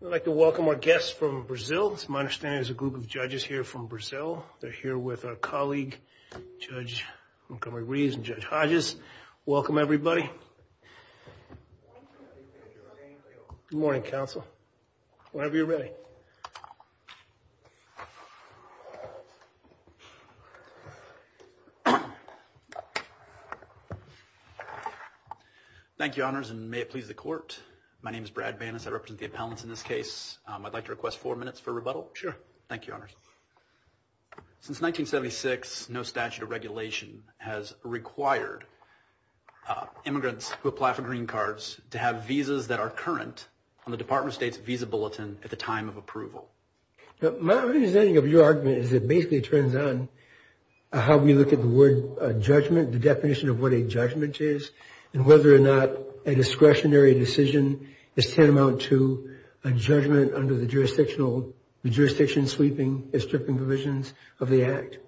I'd like to welcome our guests from Brazil. It's my understanding there's a group of judges here from Brazil. They're here with our colleague, Judge Montgomery Reeves and Judge Hodges. Welcome, everybody. Good morning, counsel. Whenever you're ready. Thank you, honors, and may it please the court. My name is Brad Bannas. I represent the appellants in this case. I'd like to request four minutes for rebuttal. Sure. Thank you, honors. Since 1976, no statute of regulation has required immigrants who apply for green cards to have visas that are current on the Department of State's visa bulletin at the time of approval. My understanding of your argument is it basically turns on how we look at the word judgment, the definition of what a judgment is, and whether or not a discretionary decision is tantamount to a judgment under the jurisdiction sweeping and stripping provisions of the Act.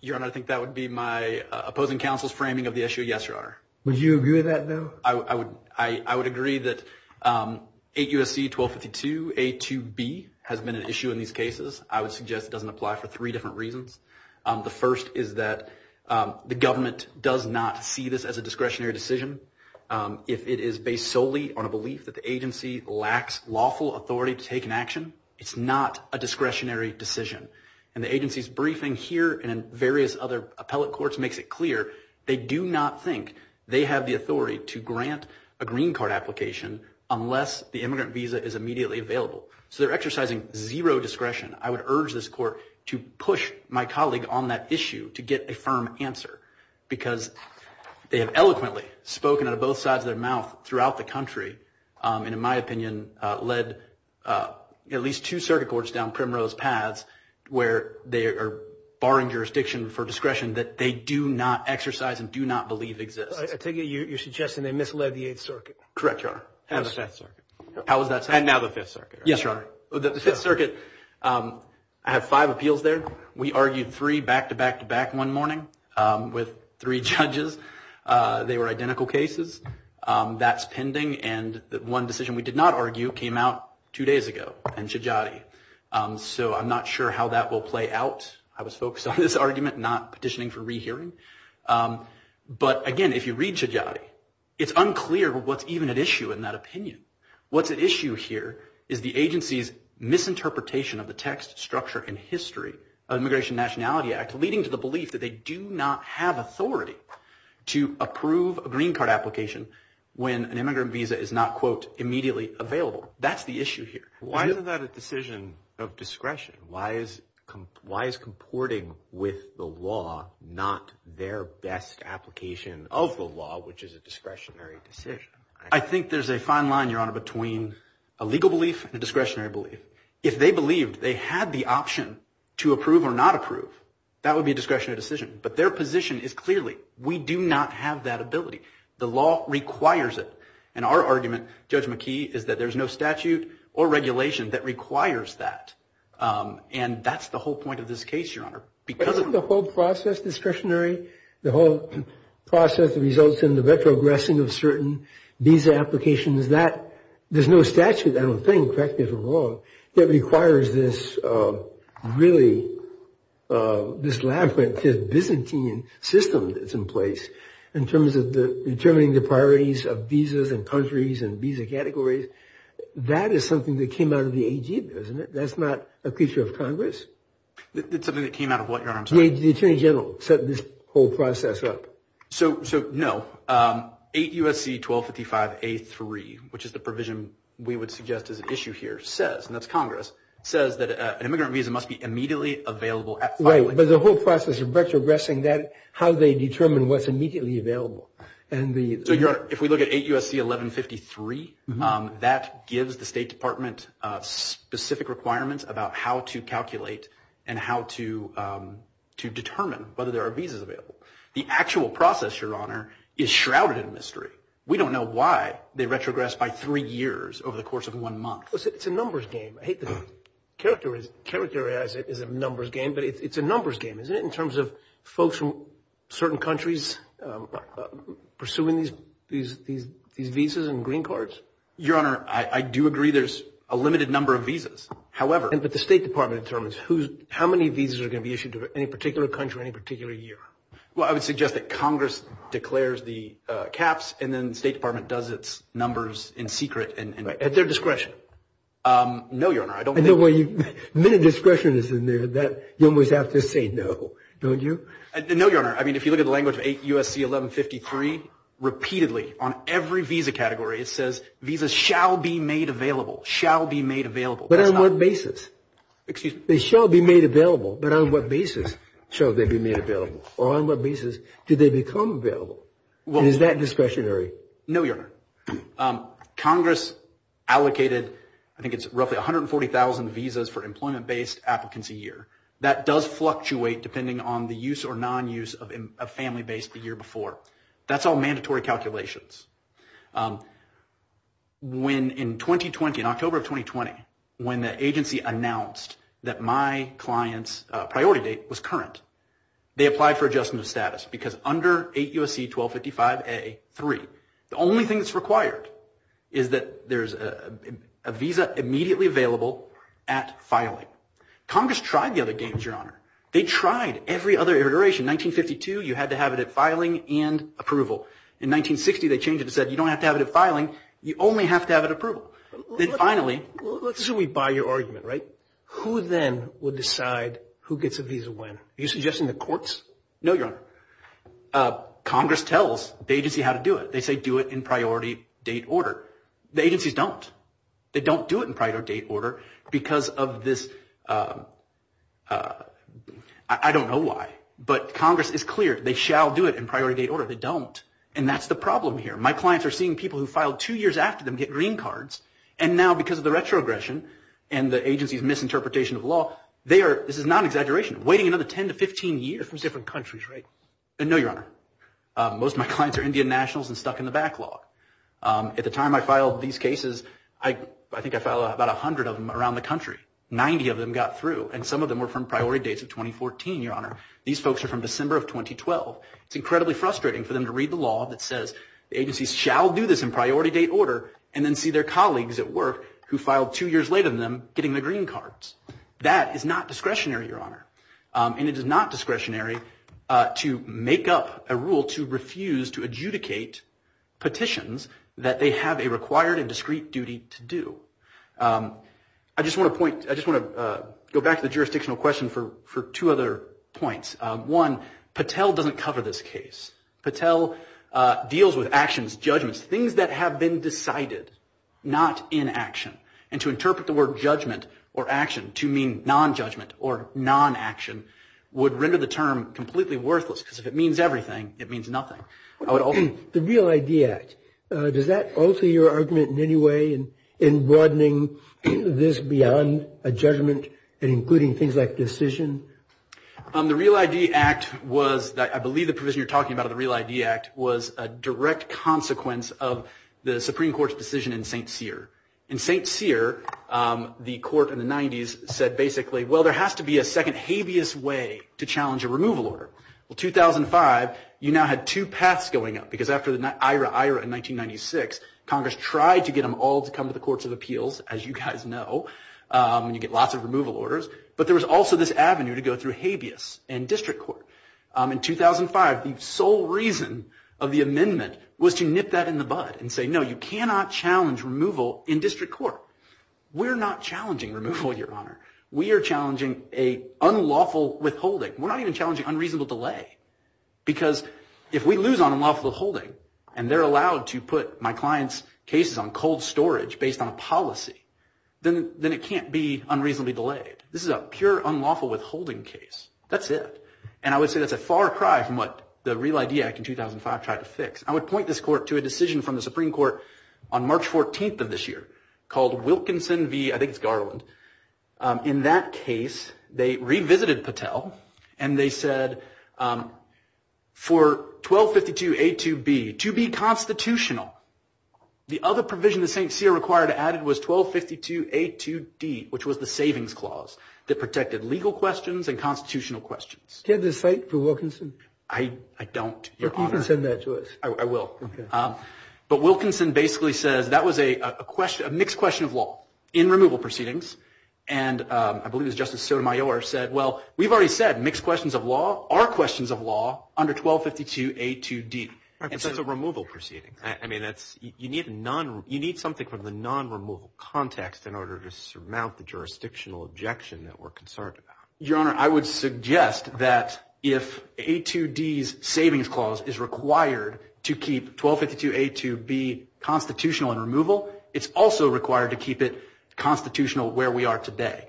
Your Honor, I think that would be my opposing counsel's framing of the issue, yes, Your Honor. Would you agree with that, though? I would agree that 8 U.S.C. 1252 A2B has been an issue in these cases. I would suggest it doesn't apply for three different reasons. The first is that the government does not see this as a discretionary decision. If it is based solely on a belief that the agency lacks lawful authority to take an action, it's not a discretionary decision. And the agency's briefing here and in various other appellate courts makes it clear they do not think they have the authority to grant a green card application unless the immigrant visa is immediately available. So they're exercising zero discretion. I would urge this court to push my colleague on that issue to get a firm answer because they have eloquently spoken out of both sides of their mouth throughout the country and, in my opinion, led at least two circuit courts down primrose paths where they are barring jurisdiction for discretion that they do not exercise and do not believe exists. I take it you're suggesting they misled the Eighth Circuit. Correct, Your Honor. And the Fifth Circuit. How is that? And now the Fifth Circuit. Yes, Your Honor. The Fifth Circuit had five appeals there. We argued three back-to-back-to-back one morning with three judges. They were identical cases. That's pending. And the one decision we did not argue came out two days ago in Shijati. So I'm not sure how that will play out. I was focused on this argument, not petitioning for rehearing. But, again, if you read Shijati, it's unclear what's even at issue in that opinion. What's at issue here is the agency's misinterpretation of the text, structure, and history of the Immigration Nationality Act, leading to the belief that they do not have authority to approve a green card application when an immigrant visa is not, quote, immediately available. That's the issue here. Why is that a decision of discretion? Why is comporting with the law not their best application of the law, which is a discretionary decision? I think there's a fine line, Your Honor, between a legal belief and a discretionary belief. If they believed they had the option to approve or not approve, that would be a discretionary decision. But their position is clearly, we do not have that ability. The law requires it. And our argument, Judge McKee, is that there's no statute or regulation that requires that. And that's the whole point of this case, Your Honor. Isn't the whole process discretionary? The whole process that results in the retrogressing of certain visa applications, there's no statute, I don't think, correct me if I'm wrong, that requires this really, this labyrinth, this Byzantine system that's in place, in terms of determining the priorities of visas and countries and visa categories. That is something that came out of the AG, isn't it? That's not a feature of Congress. That's something that came out of what, Your Honor? The Attorney General set this whole process up. So, no. 8 U.S.C. 1255A3, which is the provision we would suggest as an issue here, says, and that's Congress, says that an immigrant visa must be immediately available at filing. Right. But the whole process of retrogressing that, how they determine what's immediately available. So, Your Honor, if we look at 8 U.S.C. 1153, that gives the State Department specific requirements about how to calculate and how to determine whether there are visas available. The actual process, Your Honor, is shrouded in mystery. We don't know why they retrogressed by three years over the course of one month. It's a numbers game. I hate to characterize it as a numbers game, but it's a numbers game, isn't it, of folks from certain countries pursuing these visas and green cards? Your Honor, I do agree there's a limited number of visas. However, But the State Department determines how many visas are going to be issued to any particular country or any particular year. Well, I would suggest that Congress declares the caps, and then the State Department does its numbers in secret at their discretion. No, Your Honor. The minute discretion is in there, you almost have to say no, don't you? No, Your Honor. I mean, if you look at the language of 8 U.S.C. 1153, repeatedly, on every visa category, it says visas shall be made available, shall be made available. But on what basis? Excuse me. They shall be made available, but on what basis shall they be made available? Or on what basis did they become available? Is that discretionary? No, Your Honor. Congress allocated, I think it's roughly 140,000 visas for employment-based applicants a year. That does fluctuate depending on the use or non-use of family-based the year before. That's all mandatory calculations. When in 2020, in October of 2020, when the agency announced that my client's priority date was current, they applied for adjustment of status because under 8 U.S.C. 1255A.3, the only thing that's required is that there's a visa immediately available at filing. Congress tried the other games, Your Honor. They tried every other iteration. In 1952, you had to have it at filing and approval. In 1960, they changed it and said you don't have to have it at filing. You only have to have it at approval. Then finally— Let's say we buy your argument, right? Who then will decide who gets a visa when? Are you suggesting the courts? No, Your Honor. Congress tells the agency how to do it. They say do it in priority date order. The agencies don't. They don't do it in priority date order because of this—I don't know why, but Congress is clear they shall do it in priority date order. They don't, and that's the problem here. My clients are seeing people who filed two years after them get green cards, and now because of the retrogression and the agency's misinterpretation of law, they are—this is not an exaggeration—waiting another 10 to 15 years. Those are different countries, right? No, Your Honor. Most of my clients are Indian nationals and stuck in the backlog. At the time I filed these cases, I think I filed about 100 of them around the country. Ninety of them got through, and some of them were from priority dates of 2014, Your Honor. These folks are from December of 2012. It's incredibly frustrating for them to read the law that says the agencies shall do this in priority date order and then see their colleagues at work who filed two years later than them getting the green cards. That is not discretionary, Your Honor, and it is not discretionary to make up a rule to refuse to adjudicate petitions that they have a required and discrete duty to do. I just want to point—I just want to go back to the jurisdictional question for two other points. One, Patel doesn't cover this case. Patel deals with actions, judgments, things that have been decided, not inaction, and to interpret the word judgment or action to mean nonjudgment or nonaction would render the term completely worthless, because if it means everything, it means nothing. The Real ID Act, does that alter your argument in any way in broadening this beyond a judgment and including things like decision? The Real ID Act was—I believe the provision you're talking about in the Real ID Act was a direct consequence of the Supreme Court's decision in St. Cyr. In St. Cyr, the court in the 90s said basically, well, there has to be a second habeas way to challenge a removal order. Well, 2005, you now had two paths going up, because after the IRA-IRA in 1996, Congress tried to get them all to come to the courts of appeals, as you guys know, and you get lots of removal orders. But there was also this avenue to go through habeas and district court. In 2005, the sole reason of the amendment was to nip that in the bud and say, no, you cannot challenge removal in district court. We're not challenging removal, Your Honor. We are challenging an unlawful withholding. We're not even challenging unreasonable delay, because if we lose on unlawful withholding and they're allowed to put my client's cases on cold storage based on a policy, then it can't be unreasonably delayed. This is a pure unlawful withholding case. That's it. And I would say that's a far cry from what the Real ID Act in 2005 tried to fix. I would point this court to a decision from the Supreme Court on March 14th of this year called Wilkinson v. I think it's Garland. In that case, they revisited Patel, and they said for 1252A2B to be constitutional, the other provision that St. Cyr required added was 1252A2D, which was the savings clause that protected legal questions and constitutional questions. Do you have the cite for Wilkinson? I don't, Your Honor. You can send that to us. I will. Okay. But Wilkinson basically says that was a mixed question of law in removal proceedings, and I believe it was Justice Sotomayor who said, well, we've already said mixed questions of law are questions of law under 1252A2D. But that's a removal proceeding. I mean, you need something from the non-removal context in order to surmount the jurisdictional objection that we're concerned about. Your Honor, I would suggest that if A2D's savings clause is required to keep 1252A2B constitutional in removal, it's also required to keep it constitutional where we are today.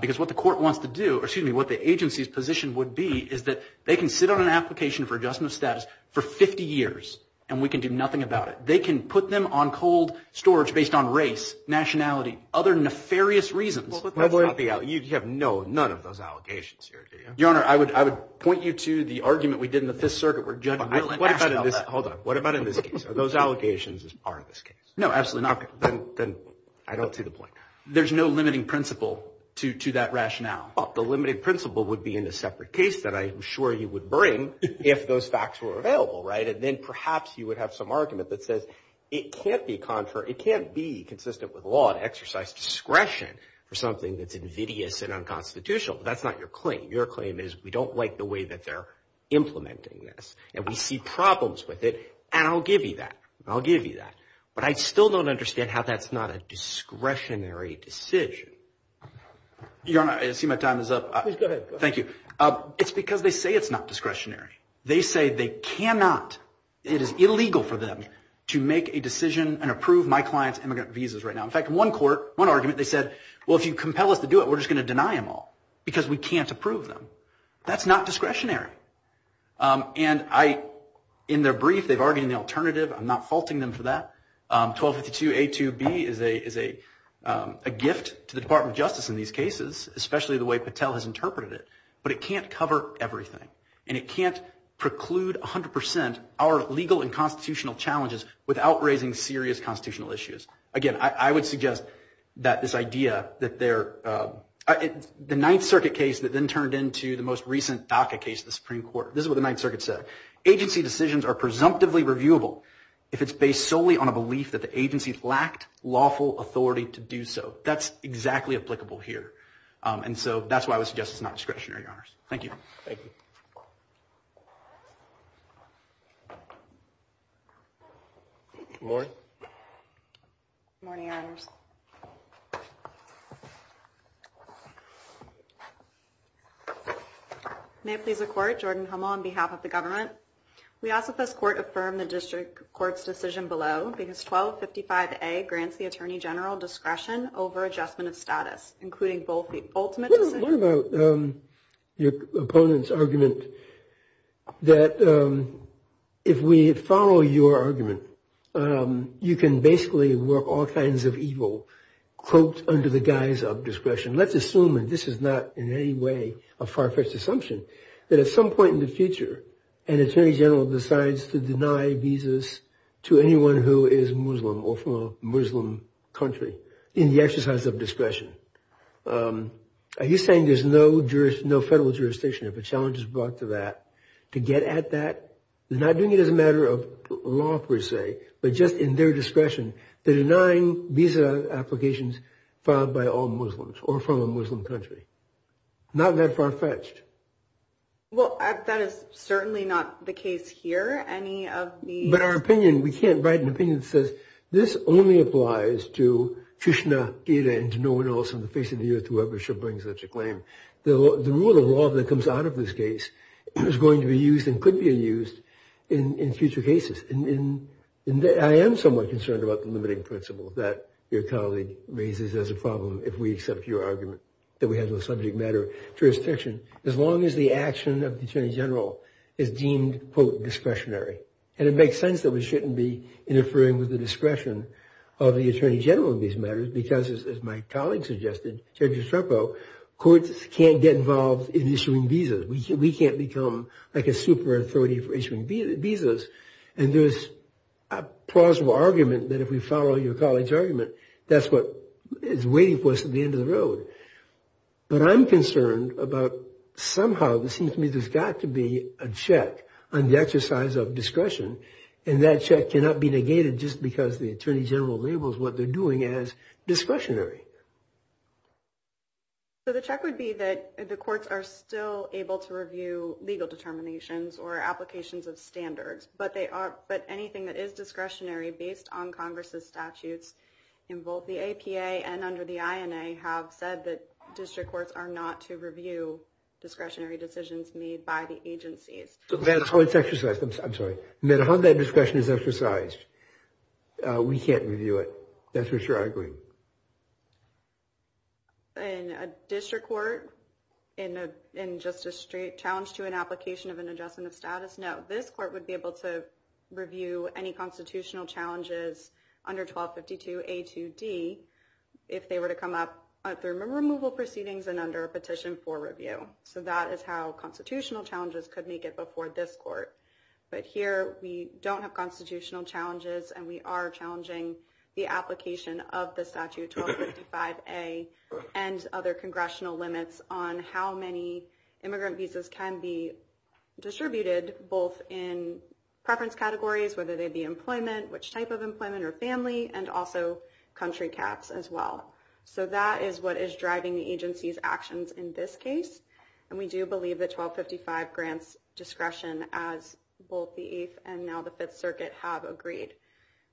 Because what the court wants to do, or excuse me, what the agency's position would be is that they can sit on an application for adjustment of status for 50 years, and we can do nothing about it. They can put them on cold storage based on race, nationality, other nefarious reasons. You have no, none of those allegations here, do you? Your Honor, I would point you to the argument we did in the Fifth Circuit where Judge Willen asked about that. Hold on. What about in this case? Are those allegations as part of this case? No, absolutely not. Then I don't see the point. There's no limiting principle to that rationale. The limiting principle would be in a separate case that I'm sure you would bring if those facts were available, right? And then perhaps you would have some argument that says it can't be consistent with law to exercise discretion for something that's invidious and unconstitutional. But that's not your claim. Your claim is we don't like the way that they're implementing this, and we see problems with it, and I'll give you that. I'll give you that. But I still don't understand how that's not a discretionary decision. Your Honor, I see my time is up. Please go ahead. Thank you. It's because they say it's not discretionary. They say they cannot, it is illegal for them to make a decision and approve my client's immigrant visas right now. In fact, in one court, one argument, they said, well, if you compel us to do it, we're just going to deny them all because we can't approve them. That's not discretionary. And in their brief, they've argued in the alternative. I'm not faulting them for that. 1252A2B is a gift to the Department of Justice in these cases, especially the way Patel has interpreted it. But it can't cover everything, and it can't preclude 100 percent our legal and constitutional challenges without raising serious constitutional issues. Again, I would suggest that this idea that they're the Ninth Circuit case that then turned into the most recent DACA case in the Supreme Court. This is what the Ninth Circuit said. Agency decisions are presumptively reviewable if it's based solely on a belief that the agency lacked lawful authority to do so. That's exactly applicable here. And so that's why I would suggest it's not discretionary, Your Honors. Thank you. Thank you. Good morning. Good morning, Your Honors. May it please the Court, Jordan Hummel on behalf of the government. We ask that this Court affirm the District Court's decision below because 1255A grants the Attorney General discretion over adjustment of status, including both the ultimate decision What about your opponent's argument that if we follow your argument, you can basically work all kinds of evil cloaked under the guise of discretion? Let's assume, and this is not in any way a far-fetched assumption, that at some point in the future, an Attorney General decides to deny visas to anyone who is Muslim or from a Muslim country in the exercise of discretion. Are you saying there's no federal jurisdiction, if a challenge is brought to that, to get at that? They're not doing it as a matter of law, per se, but just in their discretion. They're denying visa applications filed by all Muslims or from a Muslim country. Not that far-fetched. Well, that is certainly not the case here. But our opinion, we can't write an opinion that says this only applies to Krishna Gita and to no one else on the face of the earth, whoever should bring such a claim. The rule of law that comes out of this case is going to be used and could be used in future cases. I am somewhat concerned about the limiting principles that your colleague raises as a problem, if we accept your argument that we have no subject matter jurisdiction, as long as the action of the Attorney General is deemed, quote, discretionary. And it makes sense that we shouldn't be interfering with the discretion of the Attorney General in these matters, because, as my colleague suggested, Judge Estrepo, courts can't get involved in issuing visas. We can't become like a super authority for issuing visas. And there's a plausible argument that if we follow your colleague's argument, that's what is waiting for us at the end of the road. But I'm concerned about somehow, it seems to me there's got to be a check on the exercise of discretion. And that check cannot be negated just because the Attorney General labels what they're doing as discretionary. So the check would be that the courts are still able to review legal determinations or applications of standards, but anything that is discretionary based on Congress's statutes, in both the APA and under the INA, have said that district courts are not to review discretionary decisions made by the agencies. No matter how it's exercised. I'm sorry. No matter how that discretion is exercised, we can't review it. That's what you're arguing. In a district court, in just a straight challenge to an application of an adjustment of status, no. This court would be able to review any constitutional challenges under 1252A2D, if they were to come up through removal proceedings and under a petition for review. So that is how constitutional challenges could make it before this court. But here we don't have constitutional challenges and we are challenging the application of the statute 1255A and other congressional limits on how many immigrant visas can be distributed, both in preference categories, whether they be employment, which type of employment or family, and also country caps as well. So that is what is driving the agency's actions in this case. And we do believe that 1255 grants discretion as both the Eighth and now the Fifth Circuit have agreed.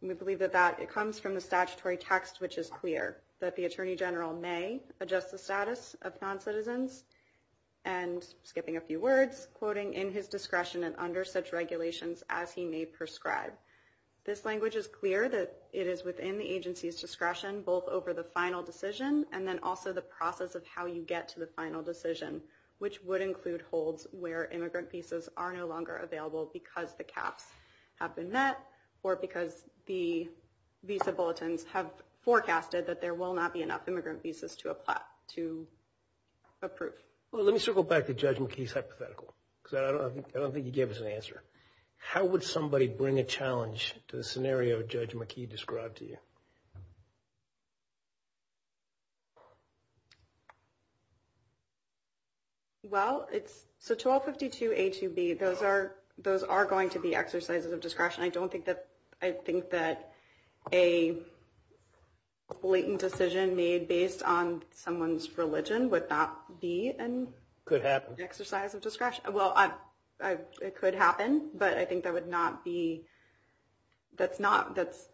We believe that that comes from the statutory text, which is clear, that the attorney general may adjust the status of noncitizens and skipping a few words, quoting in his discretion and under such regulations as he may prescribe. This language is clear that it is within the agency's discretion, both over the final decision and then also the process of how you get to the final decision, which would include holds where immigrant visas are no longer available because the caps have been met or because the visa bulletins have forecasted that there will not be enough immigrant visas to approve. Well, let me circle back to Judge McKee's hypothetical because I don't think he gave us an answer. How would somebody bring a challenge to the scenario Judge McKee described to you? Well, it's so 1252 A to B, those are going to be exercises of discretion. I don't think that I think that a blatant decision made based on someone's religion would not be an exercise of discretion. Well, it could happen, but I think that would not be. That's not that's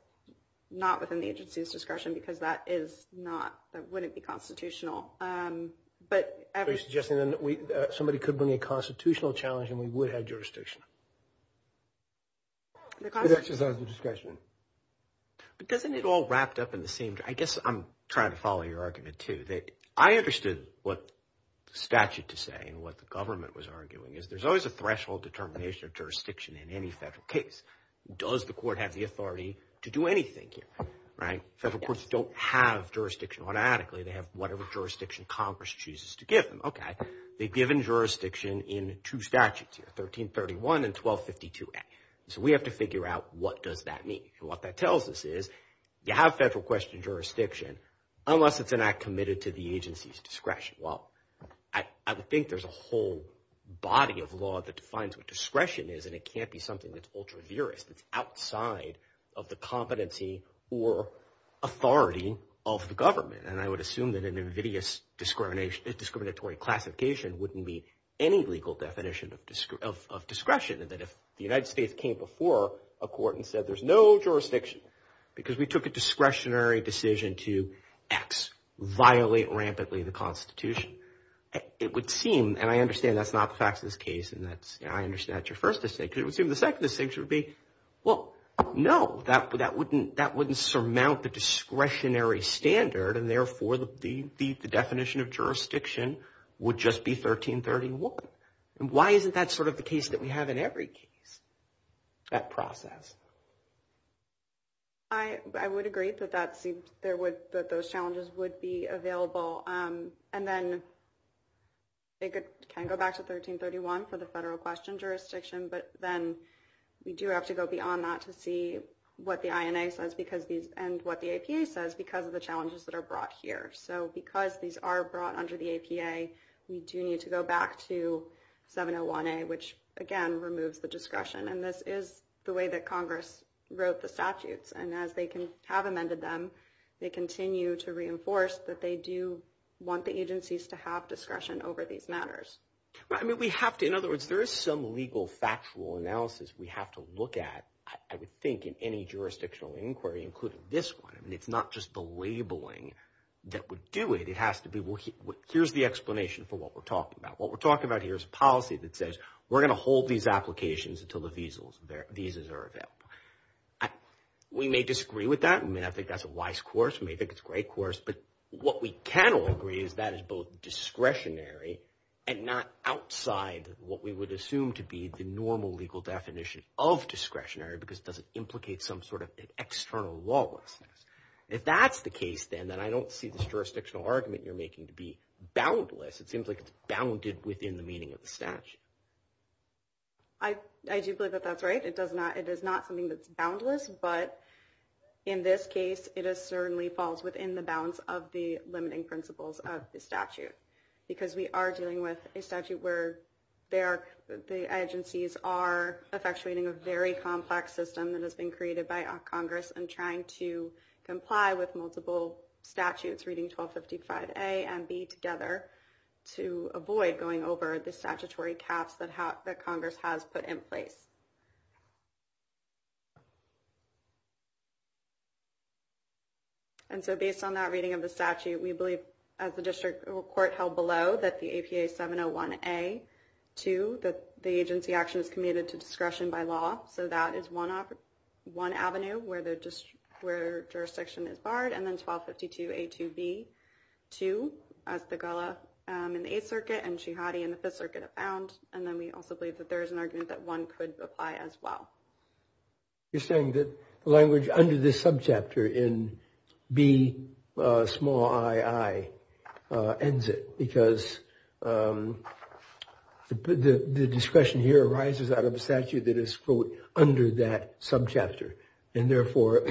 not within the agency's discretion because that is not that wouldn't be constitutional. But every suggestion that somebody could bring a constitutional challenge and we would have jurisdiction. That's just the discretion. Doesn't it all wrapped up in the same? Judge, I guess I'm trying to follow your argument to that. I understood what statute to say and what the government was arguing is there's always a threshold determination of jurisdiction in any federal case. Does the court have the authority to do anything here? Right. Federal courts don't have jurisdiction automatically. They have whatever jurisdiction Congress chooses to give them. OK, they've given jurisdiction in two statutes here, 1331 and 1252. So we have to figure out what does that mean? And what that tells us is you have federal question jurisdiction unless it's an act committed to the agency's discretion. Well, I think there's a whole body of law that defines what discretion is. And it can't be something that's ultra viris that's outside of the competency or authority of the government. And I would assume that an invidious discrimination, discriminatory classification wouldn't be any legal definition of discretion. And that if the United States came before a court and said there's no jurisdiction because we took a discretionary decision to X, violate rampantly the Constitution, it would seem, and I understand that's not the facts of this case, and I understand that's your first distinction. It would seem the second distinction would be, well, no, that wouldn't surmount the discretionary standard. And therefore, the definition of jurisdiction would just be 1331. And why isn't that sort of the case that we have in every case, that process? I would agree that those challenges would be available. And then it can go back to 1331 for the federal question jurisdiction. But then we do have to go beyond that to see what the INA says and what the APA says because of the challenges that are brought here. So because these are brought under the APA, we do need to go back to 701A, which, again, removes the discretion. And this is the way that Congress wrote the statutes. And as they can have amended them, they continue to reinforce that they do want the agencies to have discretion over these matters. I mean, we have to. In other words, there is some legal factual analysis we have to look at, I would think, in any jurisdictional inquiry, including this one. And it's not just the labeling that would do it. It has to be, well, here's the explanation for what we're talking about. What we're talking about here is a policy that says we're going to hold these applications until the visas are available. We may disagree with that. I mean, I think that's a wise course. We may think it's a great course. But what we can all agree is that is both discretionary and not outside what we would assume to be the normal legal definition of discretionary because it doesn't implicate some sort of external lawlessness. If that's the case, then, then I don't see this jurisdictional argument you're making to be boundless. It seems like it's bounded within the meaning of the statute. I do believe that that's right. It does not. It is not something that's boundless. But in this case, it certainly falls within the bounds of the limiting principles of the statute, because we are dealing with a statute where the agencies are effectuating a very complex system that has been created by Congress and trying to comply with multiple statutes, reading 1255A and B together, to avoid going over the statutory caps that Congress has put in place. And so based on that reading of the statute, we believe, as the district court held below, that the APA 701A to the agency action is committed to discretion by law. So that is one of one avenue where they're just where jurisdiction is barred. And then 1252A2B2, as the Gullah in the Eighth Circuit and Jihadi in the Fifth Circuit have found. And then we also believe that there is an argument that one could apply as well. You're saying that language under this subchapter in B small ii ends it because the discretion here arises out of a statute that is under that subchapter. And therefore,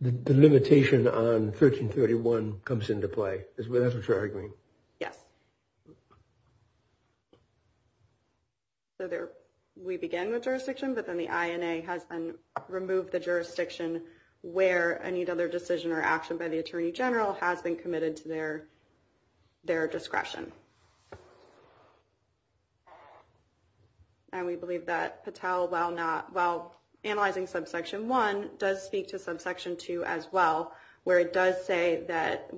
the limitation on 1331 comes into play. Yes. So we begin with jurisdiction, but then the INA has removed the jurisdiction where any other decision or action by the attorney general has been committed to their discretion. And we believe that Patel, while analyzing subsection 1, does speak to subsection 2 as well, where it does say that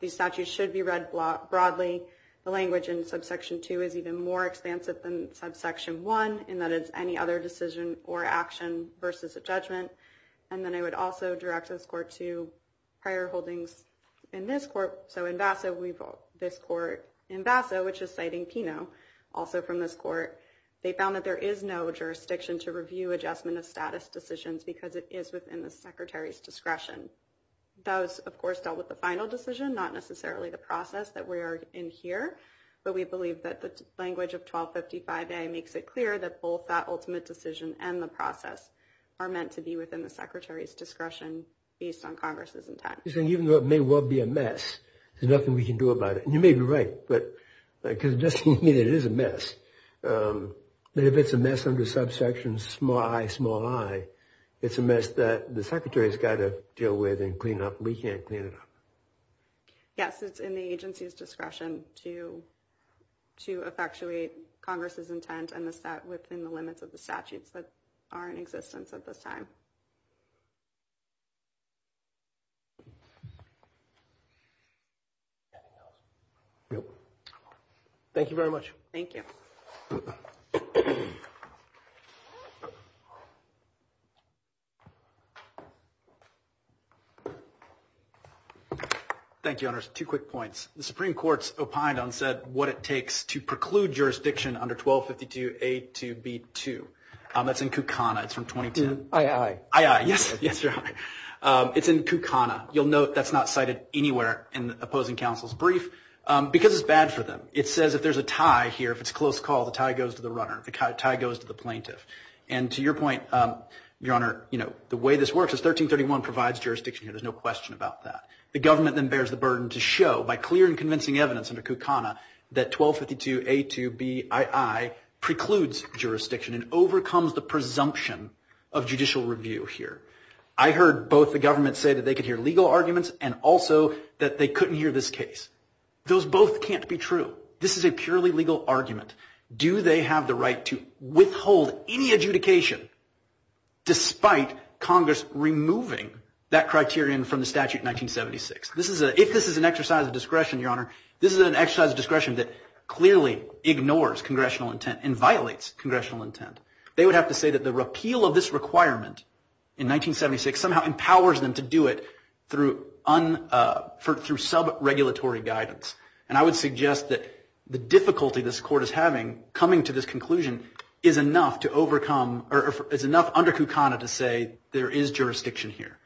these statutes should be read broadly. The language in subsection 2 is even more expansive than subsection 1 in that it's any other decision or action versus a judgment. And then I would also direct this court to prior holdings in this court. So in Vasso, we vote this court in Vasso, which is citing Pino also from this court. They found that there is no jurisdiction to review adjustment of status decisions because it is within the secretary's discretion. Those, of course, dealt with the final decision, not necessarily the process that we are in here. But we believe that the language of 1255A makes it clear that both that ultimate decision and the process are meant to be within the secretary's discretion based on Congress's intent. Even though it may well be a mess, there's nothing we can do about it. You may be right, but because it is a mess. But if it's a mess under subsection small i, small i, it's a mess that the secretary's got to deal with and clean up. We can't clean it up. Yes, it's in the agency's discretion to to effectuate Congress's intent and the stat within the limits of the statutes that are in existence at this time. Anything else? No. Thank you very much. Thank you. Thank you, Honors. Two quick points. The Supreme Court's opined on what it takes to preclude jurisdiction under 1252A2B2. That's in Kukana. It's from 2010. Aye, aye. Aye, aye. Yes. It's in Kukana. You'll note that's not cited anywhere in the opposing counsel's brief because it's bad for them. It says if there's a tie here, if it's a close call, the tie goes to the runner. The tie goes to the plaintiff. And to your point, Your Honor, you know, the way this works is 1331 provides jurisdiction here. There's no question about that. The government then bears the burden to show by clear and convincing evidence under Kukana that 1252A2BII precludes jurisdiction and overcomes the presumption of judicial review here. I heard both the government say that they could hear legal arguments and also that they couldn't hear this case. Those both can't be true. This is a purely legal argument. Do they have the right to withhold any adjudication despite Congress removing that criterion from the statute in 1976? If this is an exercise of discretion, Your Honor, this is an exercise of discretion that clearly ignores congressional intent and violates congressional intent. They would have to say that the repeal of this requirement in 1976 somehow empowers them to do it through sub-regulatory guidance. And I would suggest that the difficulty this Court is having coming to this conclusion is enough to overcome or is enough under Kukana to say there is jurisdiction here.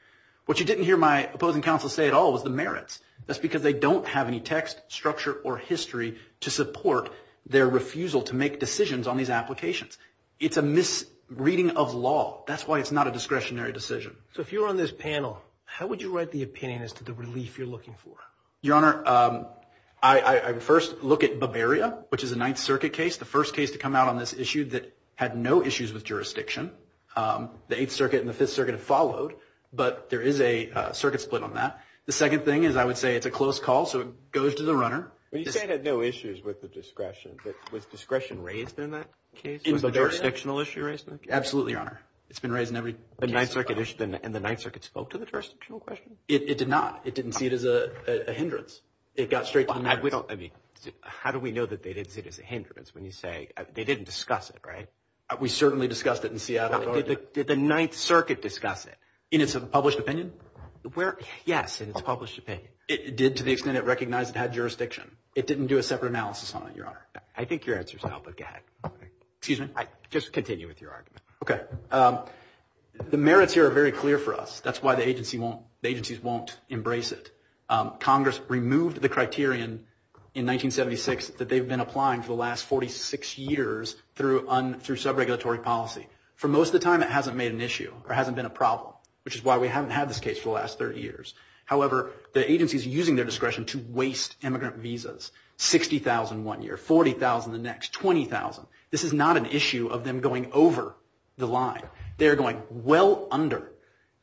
What you didn't hear my opposing counsel say at all was the merits. That's because they don't have any text, structure, or history to support their refusal to make decisions on these applications. It's a misreading of law. That's why it's not a discretionary decision. So if you were on this panel, how would you write the opinion as to the relief you're looking for? Your Honor, I would first look at Bavaria, which is a Ninth Circuit case, the first case to come out on this issue that had no issues with jurisdiction. The Eighth Circuit and the Fifth Circuit have followed, but there is a circuit split on that. The second thing is I would say it's a close call, so it goes to the runner. You say it had no issues with the discretion, but was discretion raised in that case? Was the jurisdictional issue raised in that case? Absolutely, Your Honor. It's been raised in every case. And the Ninth Circuit spoke to the jurisdictional question? It did not. It didn't see it as a hindrance. It got straight to the merits. How do we know that they didn't see it as a hindrance when you say they didn't discuss it, right? We certainly discussed it in Seattle. Did the Ninth Circuit discuss it in its published opinion? Yes, in its published opinion. It did to the extent it recognized it had jurisdiction. It didn't do a separate analysis on it, Your Honor. I think your answer is helpful. Go ahead. Excuse me? Just continue with your argument. Okay. The merits here are very clear for us. That's why the agencies won't embrace it. Congress removed the criterion in 1976 that they've been applying for the last 46 years through sub-regulatory policy. For most of the time, it hasn't made an issue or hasn't been a problem, which is why we haven't had this case for the last 30 years. However, the agencies are using their discretion to waste immigrant visas, $60,000 one year, $40,000 the next, $20,000. This is not an issue of them going over the line. They are going well under,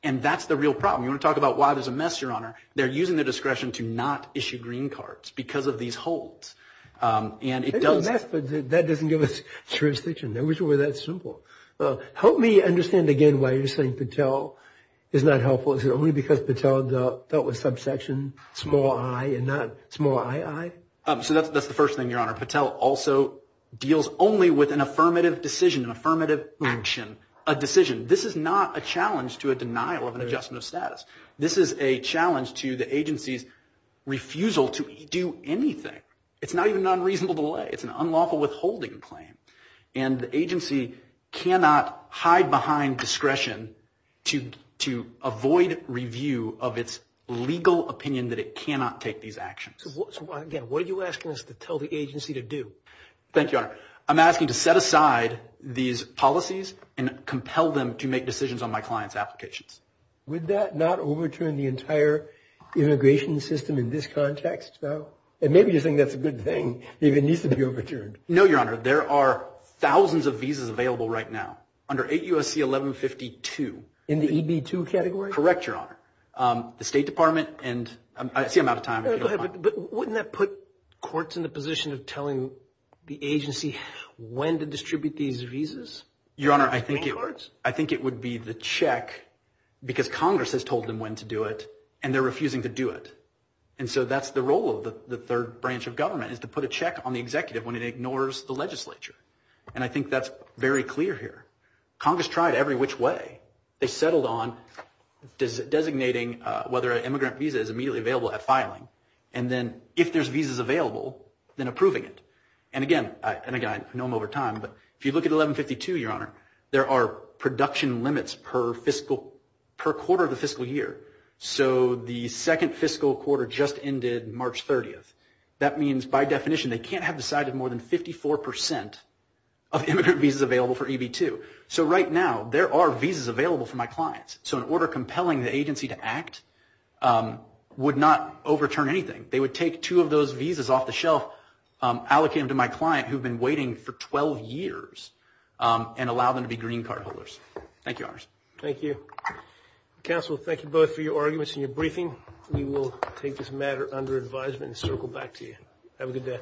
and that's the real problem. You want to talk about why there's a mess, Your Honor? They're using their discretion to not issue green cards because of these holds. And it does – There's a mess, but that doesn't give us jurisdiction. Those were that simple. Help me understand again why you're saying Patel is not helpful. Is it only because Patel dealt with subsection small i and not small ii? So that's the first thing, Your Honor. Patel also deals only with an affirmative decision, an affirmative action, a decision. This is not a challenge to a denial of an adjustment of status. This is a challenge to the agency's refusal to do anything. It's not even an unreasonable delay. It's an unlawful withholding claim. And the agency cannot hide behind discretion to avoid review of its legal opinion that it cannot take these actions. So, again, what are you asking us to tell the agency to do? Thank you, Your Honor. I'm asking to set aside these policies and compel them to make decisions on my client's applications. Would that not overturn the entire immigration system in this context, though? And maybe you think that's a good thing. Maybe it needs to be overturned. No, Your Honor. There are thousands of visas available right now under 8 U.S.C. 1152. In the EB-2 category? Correct, Your Honor. The State Department and I see I'm out of time. Go ahead. But wouldn't that put courts in the position of telling the agency when to distribute these visas? Your Honor, I think it would be the check because Congress has told them when to do it and they're refusing to do it. And so that's the role of the third branch of government is to put a check on the executive when it ignores the legislature. And I think that's very clear here. Congress tried every which way. They settled on designating whether an immigrant visa is immediately available at filing and then if there's visas available, then approving it. And, again, I know I'm over time, but if you look at 1152, Your Honor, there are production limits per fiscal quarter of the fiscal year. So the second fiscal quarter just ended March 30th. That means, by definition, they can't have decided more than 54 percent of immigrant visas available for EB-2. So right now there are visas available for my clients. So an order compelling the agency to act would not overturn anything. They would take two of those visas off the shelf, allocate them to my client, who have been waiting for 12 years, and allow them to be green card holders. Thank you, Your Honors. Thank you. Counsel, thank you both for your arguments and your briefing. We will take this matter under advisement and circle back to you. Have a good day.